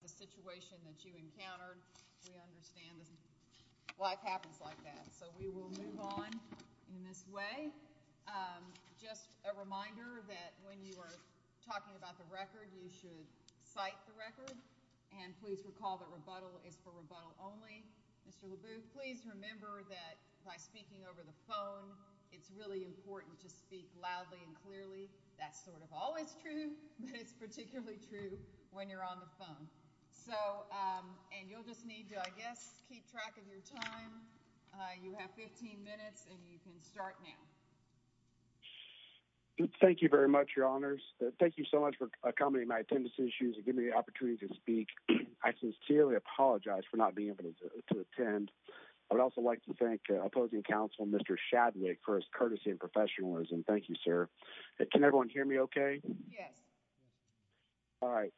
The situation that you encountered, we understand. Life happens like that. So we will move on in this way. Just a reminder that when you are talking about the record, you should cite the record. And please recall that rebuttal is for rebuttal only. Mr. LeBou, please remember that by speaking over the phone, it's really important to speak loudly and clearly. That's sort of always true, but it's particularly true when you're on the phone. So and you'll just need to, I guess, keep track of your time. You have 15 minutes and you can start now. Thank you very much, Your Honors. Thank you so much for accommodating my attendance issues and give me the opportunity to speak. I sincerely apologize for not being able to attend. I would also like to thank opposing counsel, Mr. Shadwick, for his courtesy and professionalism. Thank you, sir. Can everyone hear me OK? Yes. All right.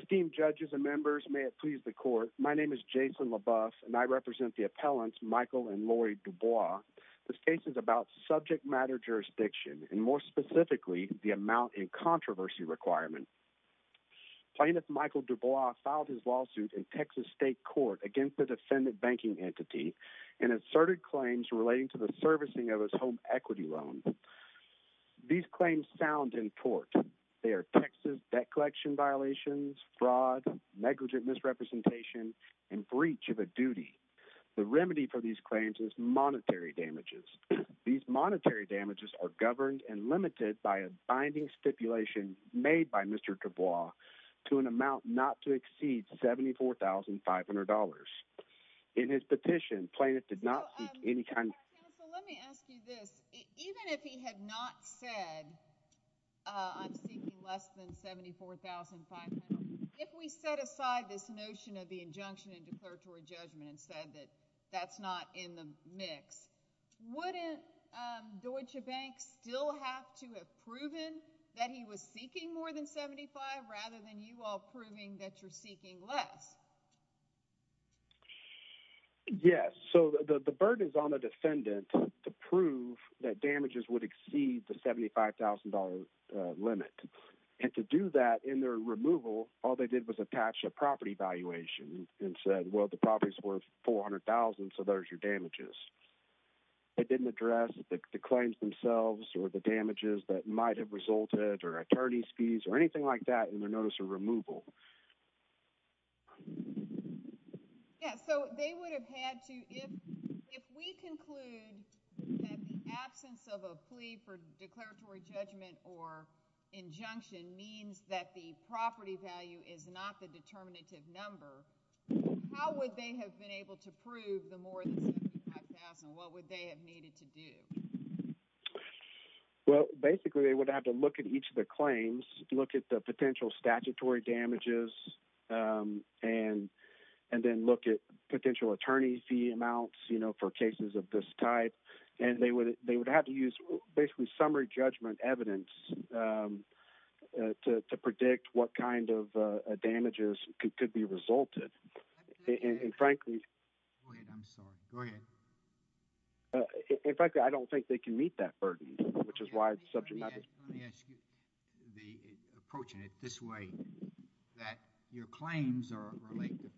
Esteemed judges and members, may it please the court. My name is Jason LeBou and I represent the appellants, Michael and Lori Dubois. This case is about subject matter jurisdiction and more specifically, the amount in controversy requirement. Plaintiff Michael Dubois filed his lawsuit in Texas state court against the defendant banking entity and asserted claims relating to the servicing of his home equity loan. These claims sound in court. They are Texas debt collection violations, fraud, negligent misrepresentation and breach of a duty. The remedy for these claims is monetary damages. These monetary damages are governed and limited by a binding stipulation made by Mr. Dubois to an amount not to exceed seventy four thousand five hundred dollars. In his petition, Plaintiff did not see any kind. So let me ask you this. Even if he had not said I'm seeking less than seventy four thousand five. If we set aside this notion of the injunction and declaratory judgment and said that that's not in the mix, wouldn't Deutsche Bank still have to have proven that he was seeking more than seventy five rather than you all proving that you're seeking less? Yes. So the burden is on the defendant to prove that damages would exceed the seventy five thousand dollar limit. And to do that in their removal, all they did was attach a property valuation and said, well, the property's worth four hundred thousand. So there's your damages. It didn't address the claims themselves or the damages that might have resulted or attorney's fees or anything like that. In their notice of removal. Yes. So they would have had to. If we conclude that the absence of a plea for declaratory judgment or injunction means that the property value is not the determinative number, how would they have been able to prove the more than what would they have needed to do? Well, basically, they would have to look at each of the claims, look at the potential statutory damages and and then look at potential attorney fee amounts, you know, for cases of this type. And they would they would have to use basically summary judgment evidence to predict what kind of damages could be resulted. And frankly, I'm sorry. Go ahead. In fact, I don't think they can meet that burden, which is why it's subject to the approaching it this way, that your claims are related to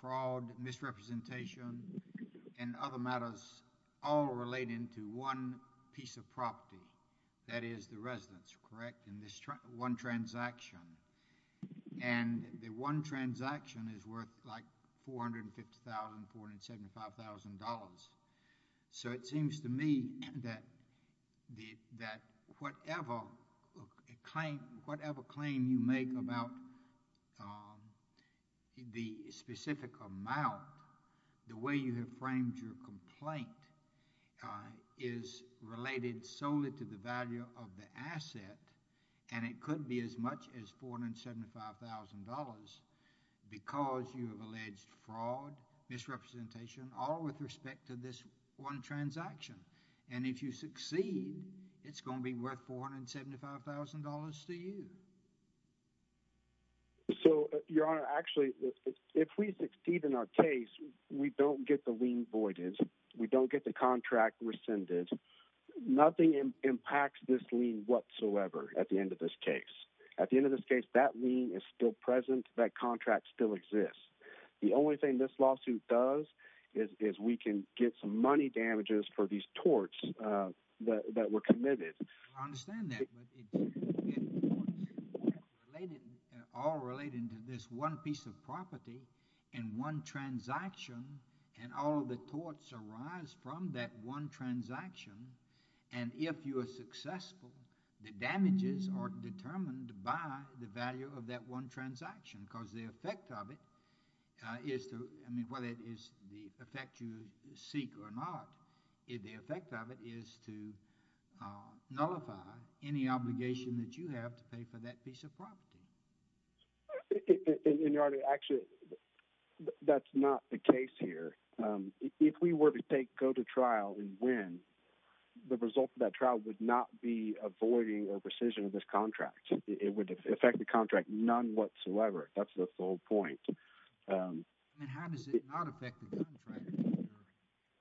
fraud, misrepresentation and other matters all relating to one piece of property. That is the residence. Correct. And this one transaction and the one transaction is worth like four hundred and fifty thousand four hundred seventy five thousand dollars. So it seems to me that the that whatever claim whatever claim you make about the specific amount, the way you have framed your complaint is related solely to the value of the asset. And it could be as much as four hundred and seventy five thousand dollars because you have alleged fraud, misrepresentation or with respect to this one transaction. And if you succeed, it's going to be worth four hundred and seventy five thousand dollars to you. So, Your Honor, actually, if we succeed in our case, we don't get the lien voided. We don't get the contract rescinded. Nothing impacts this lien whatsoever at the end of this case. At the end of this case, that lien is still present. That contract still exists. The only thing this lawsuit does is we can get some money damages for these torts that were committed. I understand that, but it's all related to this one piece of property and one transaction. And all of the torts arise from that one transaction. And if you are successful, the damages are determined by the value of that one transaction because the effect of it is to I mean, whether it is the effect you seek or not. The effect of it is to nullify any obligation that you have to pay for that piece of property. Your Honor, actually, that's not the case here. If we were to go to trial and win, the result of that trial would not be avoiding a rescission of this contract. It would affect the contract none whatsoever. That's the whole point. How does it not affect the contract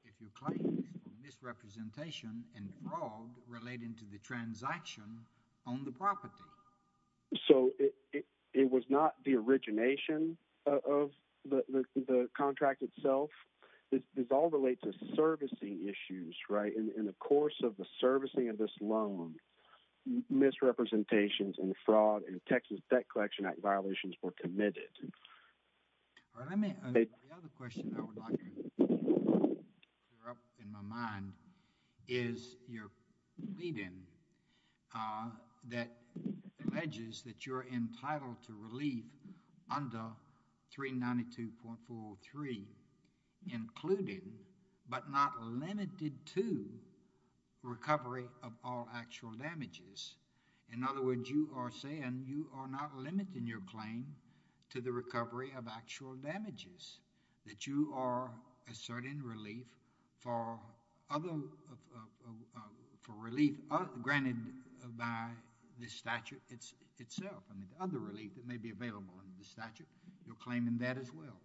if you claim misrepresentation and fraud relating to the transaction on the property? So, it was not the origination of the contract itself. This all relates to servicing issues, right? In the course of the servicing of this loan, misrepresentations and fraud in Texas Debt Collection Act violations were committed. The other question I would like to clear up in my mind is you're pleading that alleges that you're entitled to relief under 392.403 included but not limited to recovery of all actual damages. In other words, you are saying you are not limiting your claim to the recovery of actual damages, that you are asserting relief for relief granted by the statute itself. I mean, the other relief that may be available under the statute, you're claiming that as well.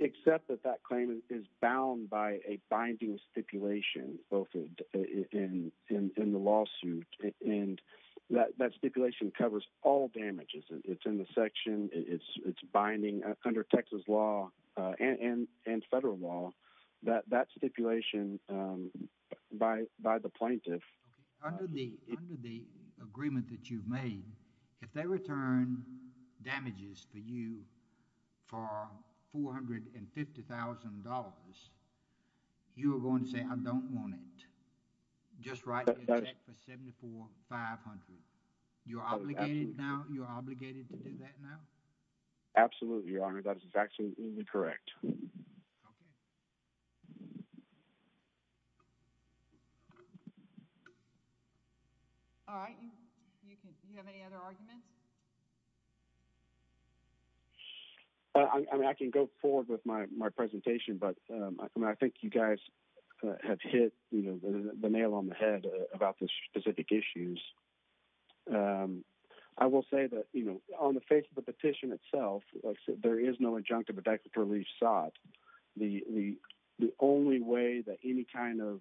Except that that claim is bound by a binding stipulation both in the lawsuit and that stipulation covers all damages. It's in the section. It's binding under Texas law and federal law that that stipulation by the plaintiff. Under the agreement that you've made, if they return damages for you for $450,000, you are going to say, I don't want it. Just write a check for $7,500. You're obligated to do that now? Absolutely, Your Honor. That is absolutely correct. All right. Do you have any other arguments? I can go forward with my presentation, but I think you guys have hit the nail on the head about the specific issues. I will say that, you know, on the face of the petition itself, there is no injunctive effective relief sought. The only way that any kind of,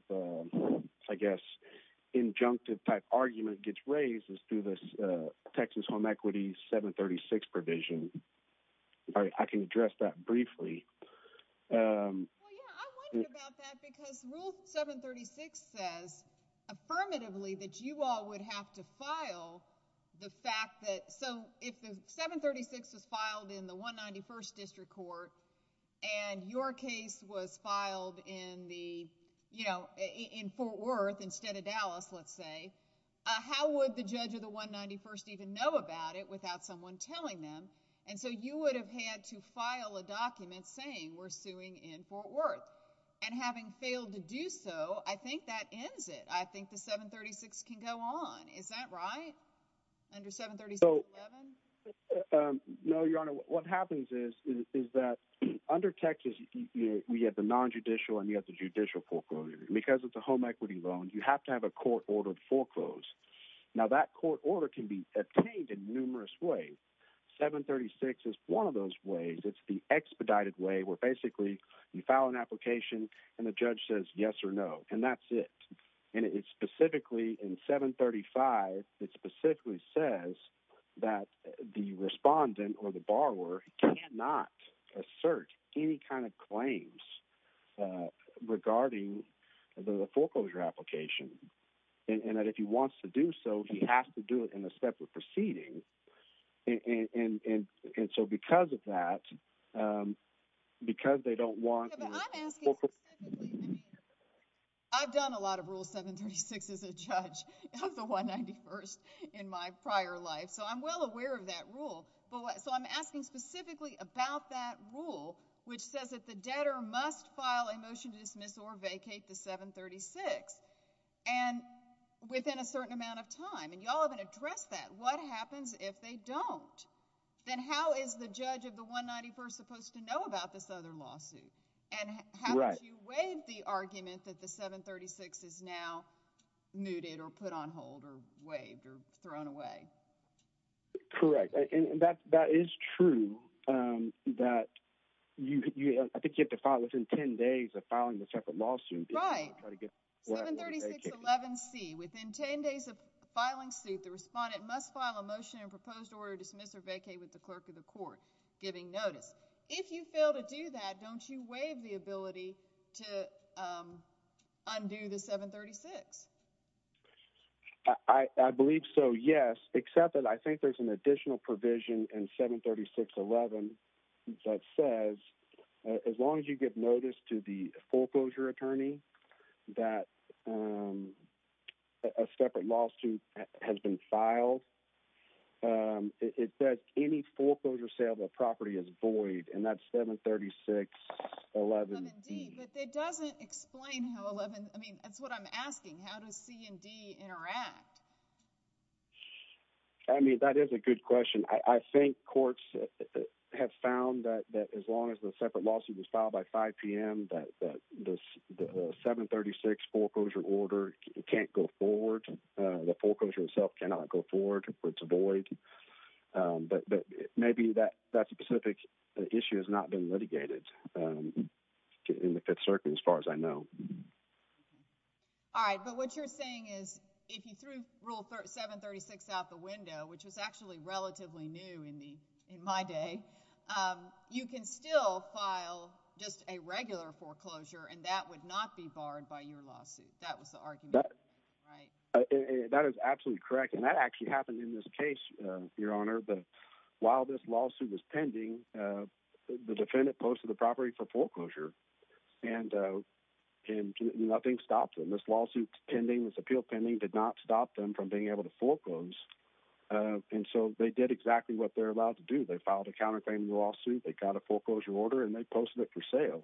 I guess, injunctive type argument gets raised is through this Texas Home Equity 736 provision. Well, yeah, I wondered about that because Rule 736 says affirmatively that you all would have to file the fact that, so if the 736 was filed in the 191st District Court and your case was filed in the, you know, in Fort Worth instead of Dallas, let's say, how would the judge of the 191st even know about it without someone telling them? And so you would have had to file a document saying we're suing in Fort Worth. And having failed to do so, I think that ends it. I think the 736 can go on. Is that right? Under 736-11? No, Your Honor. What happens is that under Texas, we have the non-judicial and we have the judicial foreclosure. Because it's a home equity loan, you have to have a court-ordered foreclose. Now, that court order can be obtained in numerous ways. 736 is one of those ways. It's the expedited way where basically you file an application and the judge says yes or no, and that's it. And it specifically, in 735, it specifically says that the respondent or the borrower cannot assert any kind of claims regarding the foreclosure application. And that if he wants to do so, he has to do it in a separate proceeding. And so because of that, because they don't want – I'm asking specifically – I've done a lot of Rule 736 as a judge of the 191st in my prior life, so I'm well aware of that rule. So I'm asking specifically about that rule, which says that the debtor must file a motion to dismiss or vacate the 736 within a certain amount of time. And you all haven't addressed that. What happens if they don't? Then how is the judge of the 191st supposed to know about this other lawsuit? And haven't you waived the argument that the 736 is now mooted or put on hold or waived or thrown away? Correct. And that is true that you – I think you have to file within 10 days of filing the separate lawsuit. Right. 736.11c, within 10 days of filing suit, the respondent must file a motion and proposed order to dismiss or vacate with the clerk of the court, giving notice. If you fail to do that, don't you waive the ability to undo the 736? I believe so, yes, except that I think there's an additional provision in 736.11 that says as long as you give notice to the foreclosure attorney that a separate lawsuit has been filed, it says any foreclosure sale of a property is void, and that's 736.11d. But that doesn't explain how 11 – I mean, that's what I'm asking. How does C&D interact? I mean, that is a good question. I think courts have found that as long as the separate lawsuit was filed by 5 p.m., that the 736 foreclosure order can't go forward. The foreclosure itself cannot go forward. It's a void. But maybe that specific issue has not been litigated in the Fifth Circuit as far as I know. All right. But what you're saying is if you threw Rule 736 out the window, which was actually relatively new in my day, you can still file just a regular foreclosure, and that would not be barred by your lawsuit. That was the argument, right? That is absolutely correct, and that actually happened in this case, Your Honor. But while this lawsuit was pending, the defendant posted the property for foreclosure, and nothing stopped them. This lawsuit pending, this appeal pending did not stop them from being able to foreclose, and so they did exactly what they're allowed to do. They filed a counterclaim lawsuit. They got a foreclosure order, and they posted it for sale.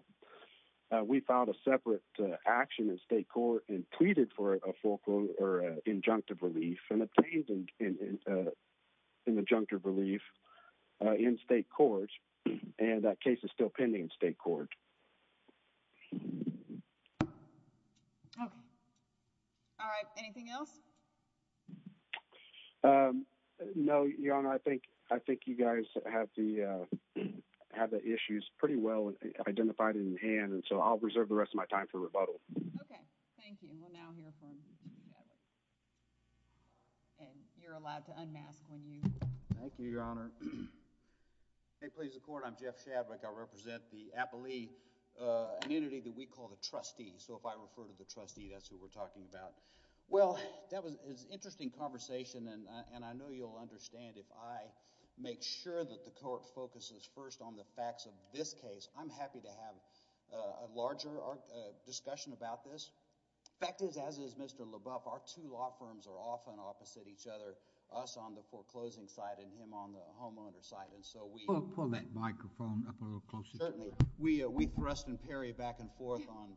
We filed a separate action in state court and tweeted for a foreclosure injunctive relief and obtained an injunctive relief in state court, and that case is still pending in state court. Okay. All right. Anything else? No, Your Honor. I think you guys have the issues pretty well identified in hand, and so I'll reserve the rest of my time for rebuttal. Okay. Thank you. We'll now hear from you, Gavin, and you're allowed to unmask when you – Thank you, Your Honor. Hey, please, the court. I'm Jeff Shadwick. I represent the appellee, an entity that we call the trustee, so if I refer to the trustee, that's who we're talking about. Well, that was an interesting conversation, and I know you'll understand if I make sure that the court focuses first on the facts of this case. I'm happy to have a larger discussion about this. The fact is, as is Mr. LaBeouf, our two law firms are often opposite each other, us on the foreclosing side and him on the homeowner side, and so we – Pull that microphone up a little closer. Certainly. We thrust and parry back and forth on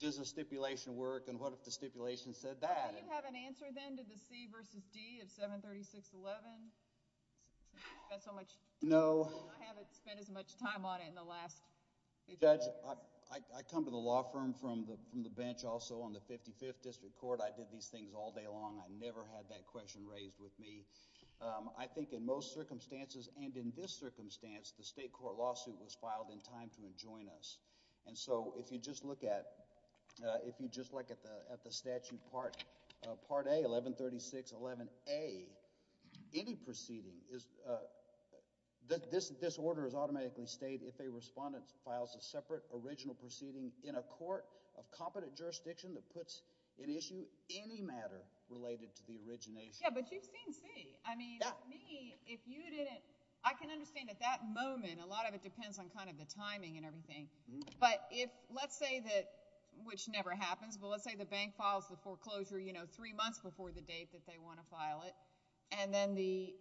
does the stipulation work and what if the stipulation said that? Do you have an answer then to the C versus D of 736.11? No. I haven't spent as much time on it in the last – Judge, I come to the law firm from the bench also on the 55th District Court. I did these things all day long. I never had that question raised with me. I think in most circumstances, and in this circumstance, the state court lawsuit was filed in time to adjoin us. And so if you just look at the statute Part A, 1136.11a, any proceeding – this order is automatically stated if a respondent files a separate original proceeding in a court of competent jurisdiction that puts in issue any matter related to the origination. Yeah, but you've seen C. I mean, me, if you didn't – I can understand at that moment a lot of it depends on kind of the timing and everything. But if – let's say that – which never happens, but let's say the bank files the foreclosure three months before the date that they want to file it, and then the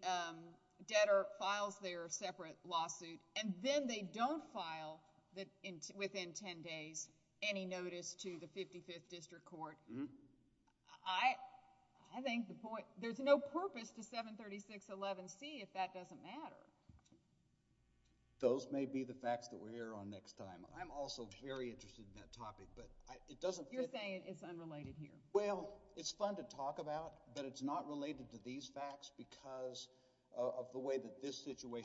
debtor files their separate lawsuit, and then they don't file within 10 days any notice to the 55th District Court. I think the point – there's no purpose to 736.11c if that doesn't matter. Those may be the facts that we'll hear on next time. I'm also very interested in that topic, but it doesn't – You're saying it's unrelated here. Well, it's fun to talk about, but it's not related to these facts because of the way that this situation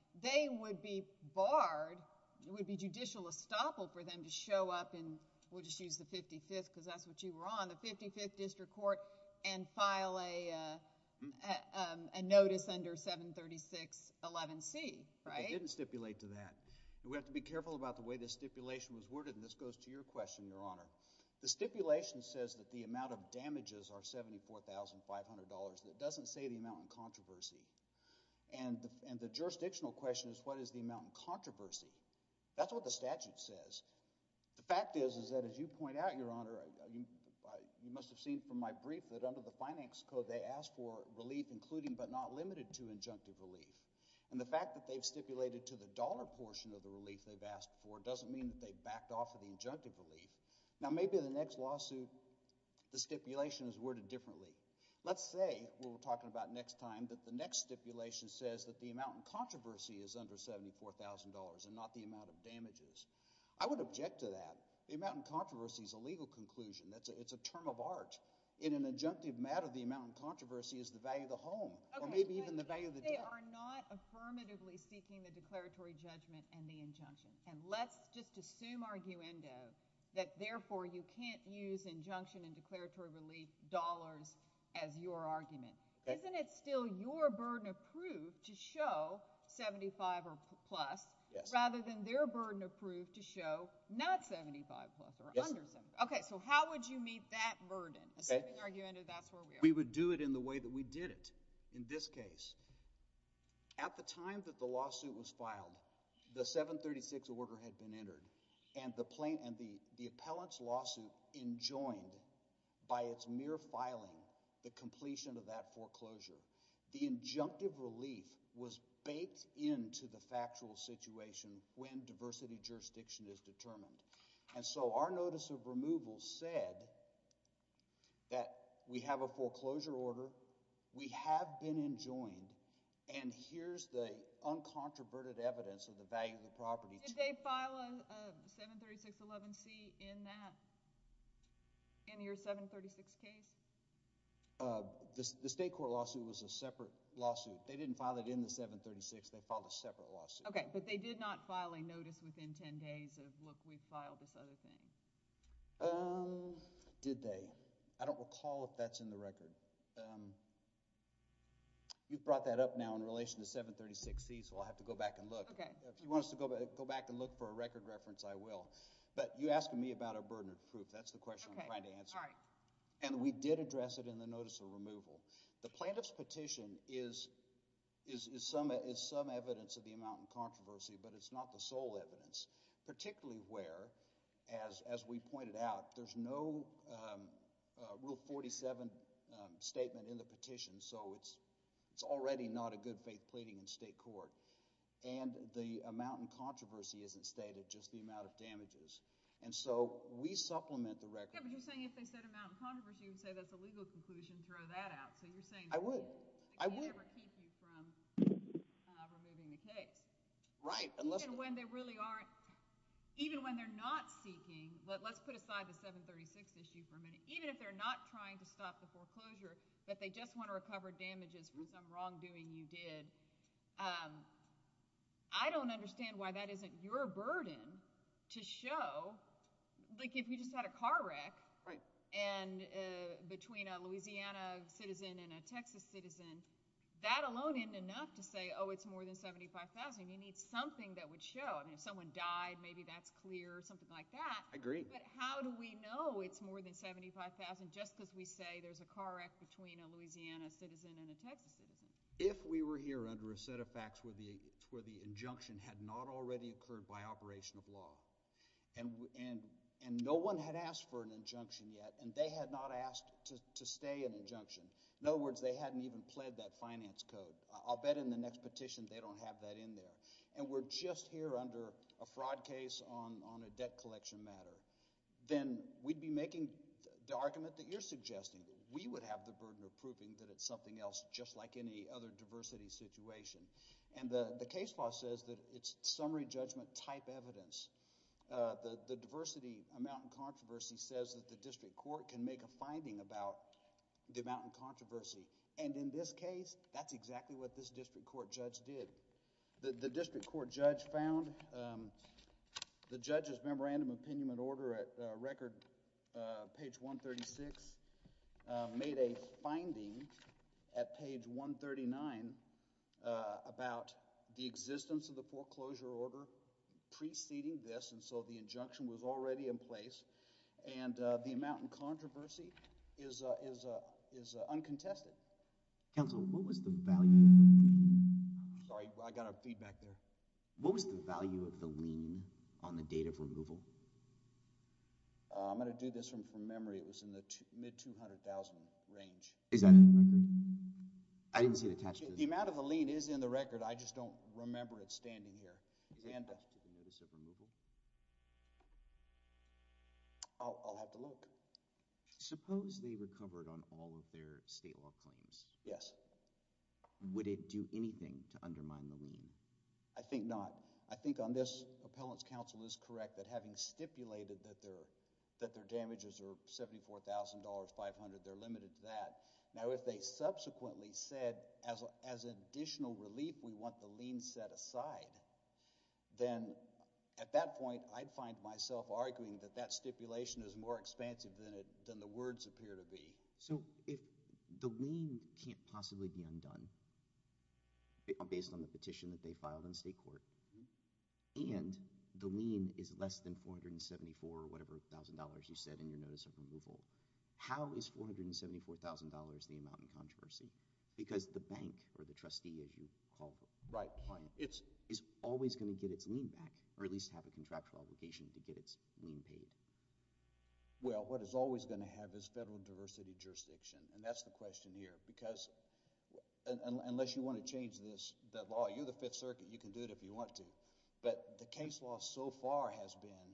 – They would be barred – it would be judicial estoppel for them to show up and – we'll just use the 55th because that's what you were on – the 55th District Court and file a notice under 736.11c, right? It didn't stipulate to that. We have to be careful about the way this stipulation was worded, and this goes to your question, Your Honor. The stipulation says that the amount of damages are $74,500, and it doesn't say the amount in controversy. And the jurisdictional question is what is the amount in controversy. That's what the statute says. The fact is, is that as you point out, Your Honor, you must have seen from my brief that under the finance code they asked for relief including but not limited to injunctive relief. And the fact that they've stipulated to the dollar portion of the relief they've asked for doesn't mean that they've backed off of the injunctive relief. Now, maybe the next lawsuit the stipulation is worded differently. Let's say what we're talking about next time that the next stipulation says that the amount in controversy is under $74,000 and not the amount of damages. I would object to that. The amount in controversy is a legal conclusion. It's a term of art. In an injunctive matter, the amount in controversy is the value of the home or maybe even the value of the – You are not affirmatively seeking the declaratory judgment and the injunction. And let's just assume, arguendo, that therefore you can't use injunction and declaratory relief dollars as your argument. Isn't it still your burden of proof to show 75 or plus rather than their burden of proof to show not 75 plus or under 75? Yes. Okay, so how would you meet that burden? Okay. Assuming, arguendo, that's where we are. We would do it in the way that we did it in this case. At the time that the lawsuit was filed, the 736 order had been entered, and the appellant's lawsuit enjoined by its mere filing the completion of that foreclosure. The injunctive relief was baked into the factual situation when diversity jurisdiction is determined. And so our notice of removal said that we have a foreclosure order, we have been enjoined, and here's the uncontroverted evidence of the value of the property. Did they file a 73611C in that – in your 736 case? The state court lawsuit was a separate lawsuit. They didn't file it in the 736. They filed a separate lawsuit. Okay, but they did not file a notice within 10 days of, look, we filed this other thing. Did they? I don't recall if that's in the record. You brought that up now in relation to 736C, so I'll have to go back and look. Okay. If you want us to go back and look for a record reference, I will. But you're asking me about our burden of proof. That's the question I'm trying to answer. Okay. All right. And we did address it in the notice of removal. The plaintiff's petition is some evidence of the amount in controversy, but it's not the sole evidence, particularly where, as we pointed out, there's no Rule 47 statement in the petition, so it's already not a good faith pleading in state court. And the amount in controversy isn't stated, just the amount of damages. And so we supplement the record. Yeah, but you're saying if they said amount in controversy, you would say that's a legal conclusion and throw that out. So you're saying that they can never keep you from removing the case. Right. Even when they really aren't – even when they're not seeking – let's put aside the 736 issue for a minute. Even if they're not trying to stop the foreclosure, but they just want to recover damages for some wrongdoing you did, I don't understand why that isn't your burden to show. Like, if you just had a car wreck between a Louisiana citizen and a Texas citizen, that alone isn't enough to say, oh, it's more than 75,000. You need something that would show. I mean, if someone died, maybe that's clear, something like that. I agree. But how do we know it's more than 75,000 just because we say there's a car wreck between a Louisiana citizen and a Texas citizen? If we were here under a set of facts where the injunction had not already occurred by operation of law, and no one had asked for an injunction yet, and they had not asked to stay an injunction. In other words, they hadn't even pled that finance code. I'll bet in the next petition they don't have that in there. And we're just here under a fraud case on a debt collection matter. Then we'd be making the argument that you're suggesting. We would have the burden of proving that it's something else just like any other diversity situation. And the case law says that it's summary judgment type evidence. The diversity amount in controversy says that the district court can make a finding about the amount in controversy. And in this case, that's exactly what this district court judge did. The district court judge found the judge's memorandum of opinion and order at record page 136 made a finding at page 139 about the existence of the foreclosure order preceding this. And so the injunction was already in place. And the amount in controversy is uncontested. Counsel, what was the value of the lien on the date of removal? I'm going to do this from memory. It was in the mid-$200,000 range. Is that in the record? I didn't see it attached to this. The amount of the lien is in the record. I just don't remember it standing here. Is it attached to the notice of removal? I'll have to look. Suppose they recovered on all of their state law claims. Yes. Would it do anything to undermine the lien? I think not. I think on this, Appellant's counsel is correct that having stipulated that their damages are $74,500, they're limited to that. Now, if they subsequently said, as an additional relief, we want the lien set aside, then at that point I'd find myself arguing that that stipulation is more expansive than the words appear to be. So if the lien can't possibly be undone based on the petition that they filed in state court and the lien is less than $474 or whatever thousand dollars you said in your notice of removal, how is $474,000 the amount in controversy? Because the bank or the trustee, as you call them, is always going to get its lien back or at least have a contractual obligation to get its lien paid. Well, what it's always going to have is federal diversity jurisdiction, and that's the question here. Because unless you want to change the law, you're the Fifth Circuit. You can do it if you want to. But the case law so far has been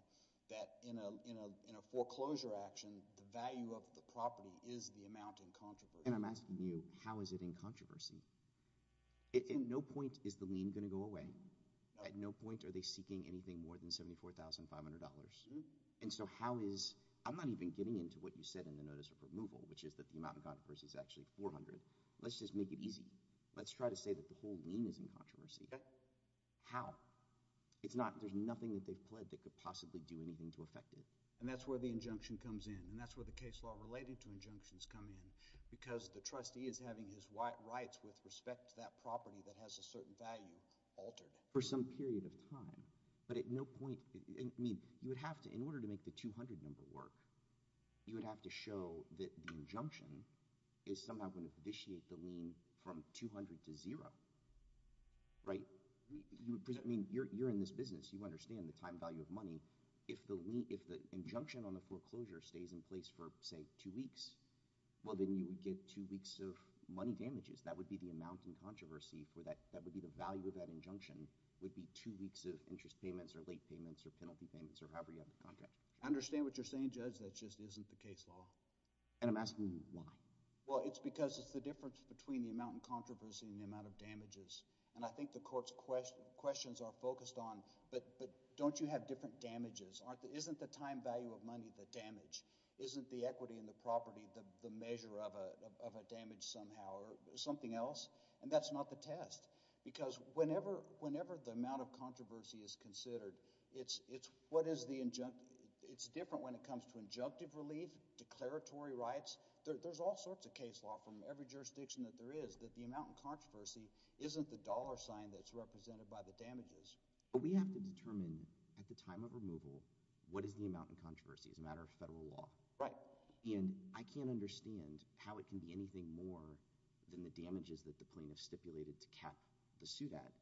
that in a foreclosure action, the value of the property is the amount in controversy. And I'm asking you, how is it in controversy? At no point is the lien going to go away. At no point are they seeking anything more than $74,500. And so how is – I'm not even getting into what you said in the notice of removal, which is that the amount in controversy is actually $400. Let's just make it easy. Let's try to say that the whole lien is in controversy. How? It's not – there's nothing that they've pledged that could possibly do anything to affect it. And that's where the injunction comes in, and that's where the case law related to injunctions come in, because the trustee is having his rights with respect to that property that has a certain value altered. For some period of time. But at no point – I mean, you would have to – in order to make the 200 number work, you would have to show that the injunction is somehow going to vitiate the lien from 200 to zero, right? I mean, you're in this business. You understand the time value of money. If the injunction on the foreclosure stays in place for, say, two weeks, well, then you would get two weeks of money damages. That would be the amount in controversy for that – that would be the value of that injunction would be two weeks of interest payments or late payments or penalty payments or however you have the contract. I understand what you're saying, Judge. That just isn't the case law. And I'm asking you why. Well, it's because it's the difference between the amount in controversy and the amount of damages. And I think the court's questions are focused on but don't you have different damages? Isn't the time value of money the damage? Isn't the equity in the property the measure of a damage somehow or something else? And that's not the test because whenever the amount of controversy is considered, it's what is the – it's different when it comes to injunctive relief, declaratory rights. There's all sorts of case law from every jurisdiction that there is that the amount in controversy isn't the dollar sign that's represented by the damages. But we have to determine at the time of removal what is the amount in controversy as a matter of federal law. Right. And I can't understand how it can be anything more than the damages that the plaintiff stipulated to cap the suit at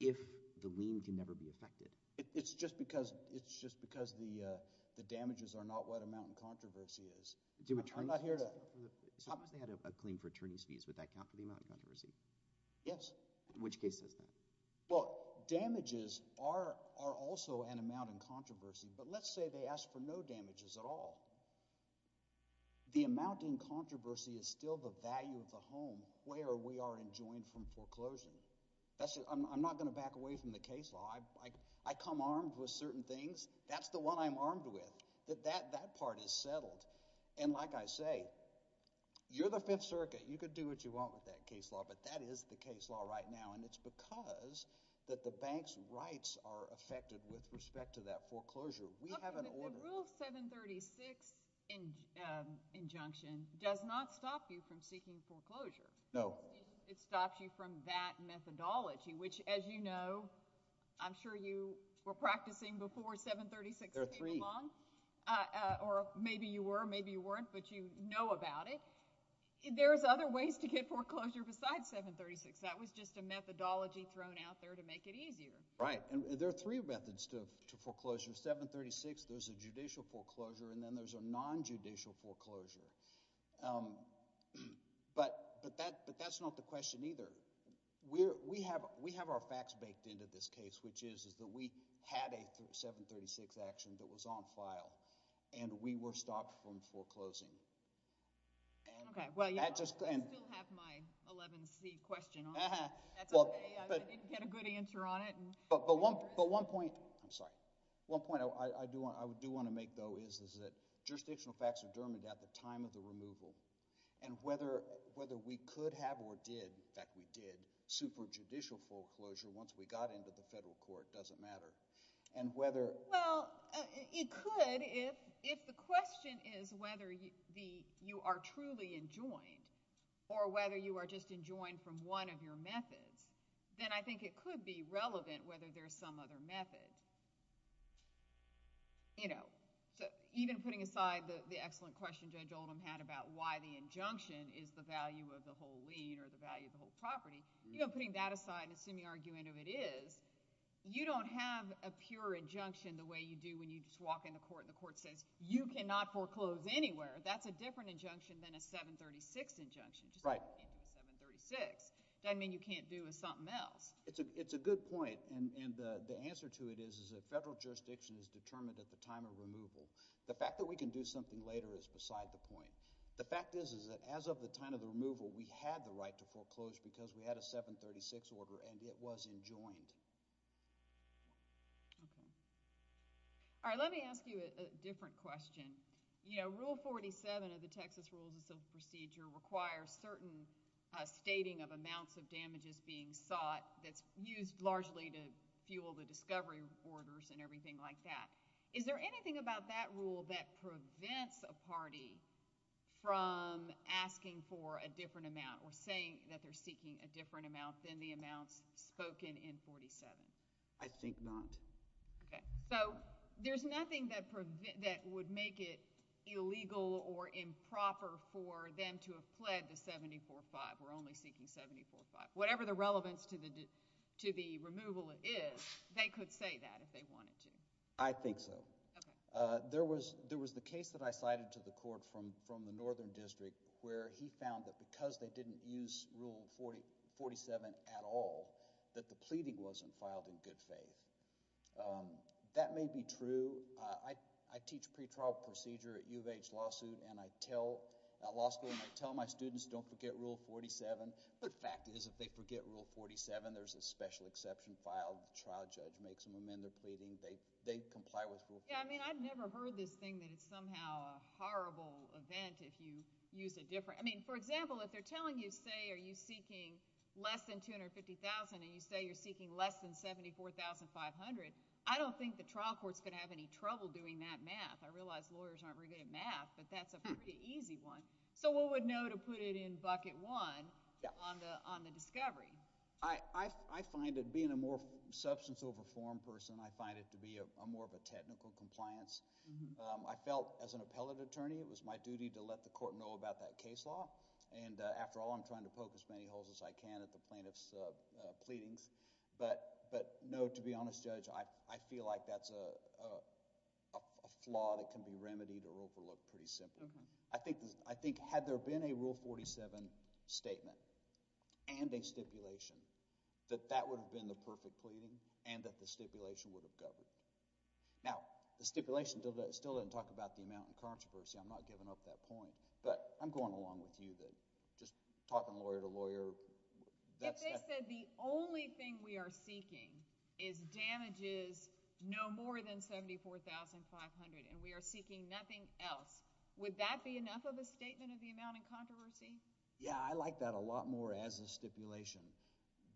if the lien can never be affected. It's just because – it's just because the damages are not what amount in controversy is. Do attorneys – I'm not here to – If a plaintiff had a claim for attorney's fees, would that count for the amount in controversy? Yes. In which case does that? Well, damages are also an amount in controversy, but let's say they ask for no damages at all. The amount in controversy is still the value of the home where we are enjoined from foreclosure. I'm not going to back away from the case law. I come armed with certain things. That's the one I'm armed with. That part is settled. And like I say, you're the Fifth Circuit. You can do what you want with that case law, but that is the case law right now. And it's because that the bank's rights are affected with respect to that foreclosure. We have an order. The Rule 736 injunction does not stop you from seeking foreclosure. No. It stops you from that methodology, which, as you know – I'm sure you were practicing before 736 came along. There are three. Or maybe you were, maybe you weren't, but you know about it. There's other ways to get foreclosure besides 736. That was just a methodology thrown out there to make it easier. Right, and there are three methods to foreclosure. 736, there's a judicial foreclosure, and then there's a non-judicial foreclosure. But that's not the question either. We have our facts baked into this case, which is that we had a 736 action that was on file, and we were stopped from foreclosing. Okay, well, you still have my 11C question. That's okay. I didn't get a good answer on it. But one point – I'm sorry. One point I do want to make, though, is that jurisdictional facts are determined at the time of the removal. And whether we could have or did – in fact, we did – superjudicial foreclosure once we got into the federal court doesn't matter. Well, it could if the question is whether you are truly enjoined or whether you are just enjoined from one of your methods. Then I think it could be relevant whether there's some other method. You know, even putting aside the excellent question Judge Oldham had about why the injunction is the value of the whole lien or the value of the whole property, you know, putting that aside and assuming the argument of it is, you don't have a pure injunction the way you do when you just walk into court and the court says you cannot foreclose anywhere. That's a different injunction than a 736 injunction. Right. 736 doesn't mean you can't do something else. It's a good point, and the answer to it is that federal jurisdiction is determined at the time of removal. The fact that we can do something later is beside the point. The fact is, is that as of the time of the removal, we had the right to foreclose because we had a 736 order and it was enjoined. Okay. All right, let me ask you a different question. You know, Rule 47 of the Texas Rules of Procedure requires certain stating of amounts of damages being sought that's used largely to fuel the discovery orders and everything like that. Is there anything about that rule that prevents a party from asking for a different amount or saying that they're seeking a different amount than the amounts spoken in 47? I think not. Okay. So there's nothing that would make it illegal or improper for them to have pled the 745 or only seeking 745. Whatever the relevance to the removal is, they could say that if they wanted to. I think so. Okay. There was the case that I cited to the court from the Northern District where he found that because they didn't use Rule 47 at all, that the pleading wasn't filed in good faith. That may be true. I teach pretrial procedure at U of H Law School, and I tell my students don't forget Rule 47. The fact is if they forget Rule 47, there's a special exception filed. The trial judge makes them amend their pleading. They comply with Rule 47. Yeah, I mean I've never heard this thing that it's somehow a horrible event if you use a different – I mean, for example, if they're telling you, say, are you seeking less than 250,000 and you say you're seeking less than 74,500, I don't think the trial court's going to have any trouble doing that math. I realize lawyers aren't very good at math, but that's a pretty easy one. So what would know to put it in bucket one on the discovery? I find it – being a more substance over form person, I find it to be more of a technical compliance. I felt as an appellate attorney it was my duty to let the court know about that case law. And after all, I'm trying to poke as many holes as I can at the plaintiff's pleadings. But no, to be honest, Judge, I feel like that's a flaw that can be remedied or overlooked pretty simply. I think had there been a Rule 47 statement and a stipulation that that would have been the perfect pleading and that the stipulation would have governed. Now, the stipulation still doesn't talk about the amount of controversy. I'm not giving up that point, but I'm going along with you then, just talking lawyer to lawyer. If they said the only thing we are seeking is damages no more than $74,500 and we are seeking nothing else, would that be enough of a statement of the amount of controversy? Yeah, I like that a lot more as a stipulation.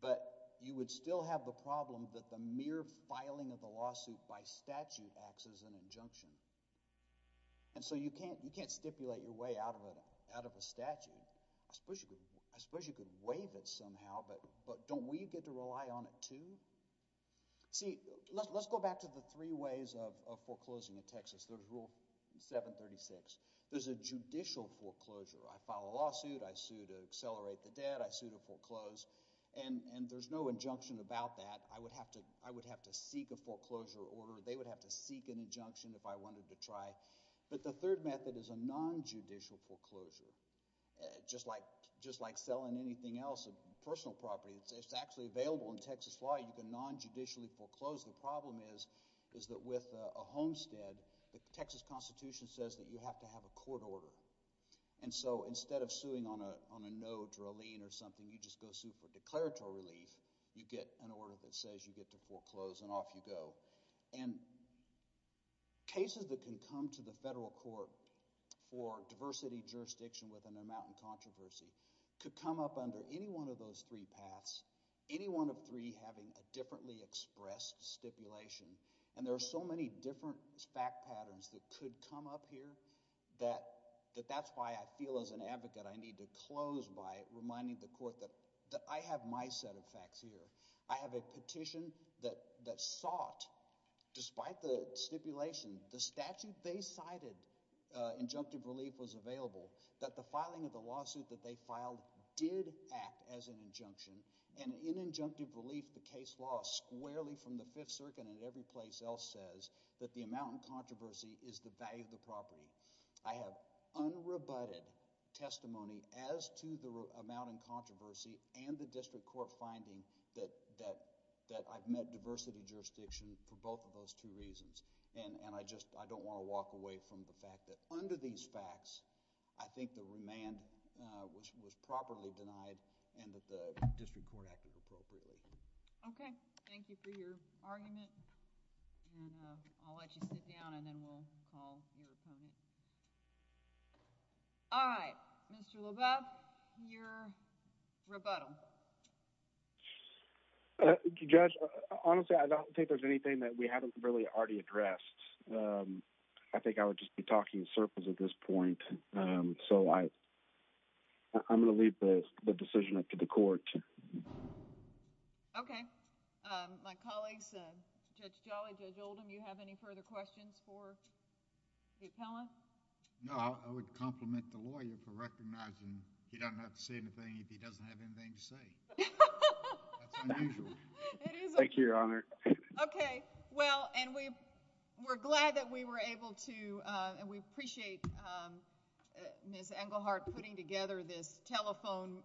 But you would still have the problem that the mere filing of the lawsuit by statute acts as an injunction. And so you can't stipulate your way out of a statute. I suppose you could waive it somehow, but don't we get to rely on it too? See, let's go back to the three ways of foreclosing in Texas. There's Rule 736. There's a judicial foreclosure. I file a lawsuit. I sue to accelerate the debt. I sue to foreclose. And there's no injunction about that. I would have to seek a foreclosure order. They would have to seek an injunction if I wanted to try. But the third method is a nonjudicial foreclosure, just like selling anything else, a personal property. It's actually available in Texas law. You can nonjudicially foreclose. The problem is that with a homestead, the Texas Constitution says that you have to have a court order. And so instead of suing on a note or a lien or something, you just go sue for declaratory relief. You get an order that says you get to foreclose, and off you go. And cases that can come to the federal court for diversity jurisdiction with an amount of controversy could come up under any one of those three paths, any one of three having a differently expressed stipulation. And there are so many different fact patterns that could come up here that that's why I feel as an advocate I need to close by reminding the court that I have my set of facts here. I have a petition that sought, despite the stipulation, the statute they cited, injunctive relief was available, that the filing of the lawsuit that they filed did act as an injunction. And in injunctive relief, the case law squarely from the Fifth Circuit and every place else says that the amount in controversy is the value of the property. I have unrebutted testimony as to the amount in controversy and the district court finding that I've met diversity jurisdiction for both of those two reasons. And I just, I don't want to walk away from the fact that under these facts, I think the remand was properly denied and that the district court acted appropriately. OK, thank you for your argument. And I'll let you sit down and then we'll call your opponent. All right, Mr. LaBeouf, your rebuttal. Judge, honestly, I don't think there's anything that we haven't really already addressed. I think I would just be talking circles at this point. So I'm going to leave the decision up to the court. OK, my colleagues, Judge Jolly, Judge Oldham, you have any further questions for Pete Pella? No, I would compliment the lawyer for recognizing he doesn't have to say anything if he doesn't have anything to say. Thank you, Your Honor. OK, well, and we were glad that we were able to and we appreciate Ms. Engelhardt putting together this telephone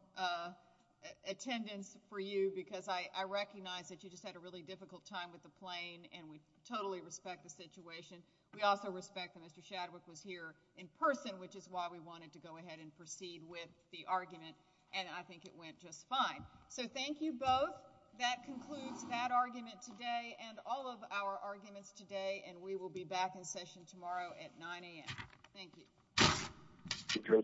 attendance for you because I recognize that you just had a really difficult time with the plane and we totally respect the situation. We also respect that Mr. Shadwick was here in person, which is why we wanted to go ahead and proceed with the argument. And I think it went just fine. So thank you both. That concludes that argument today and all of our arguments today. And we will be back in session tomorrow at 9 a.m. Thank you.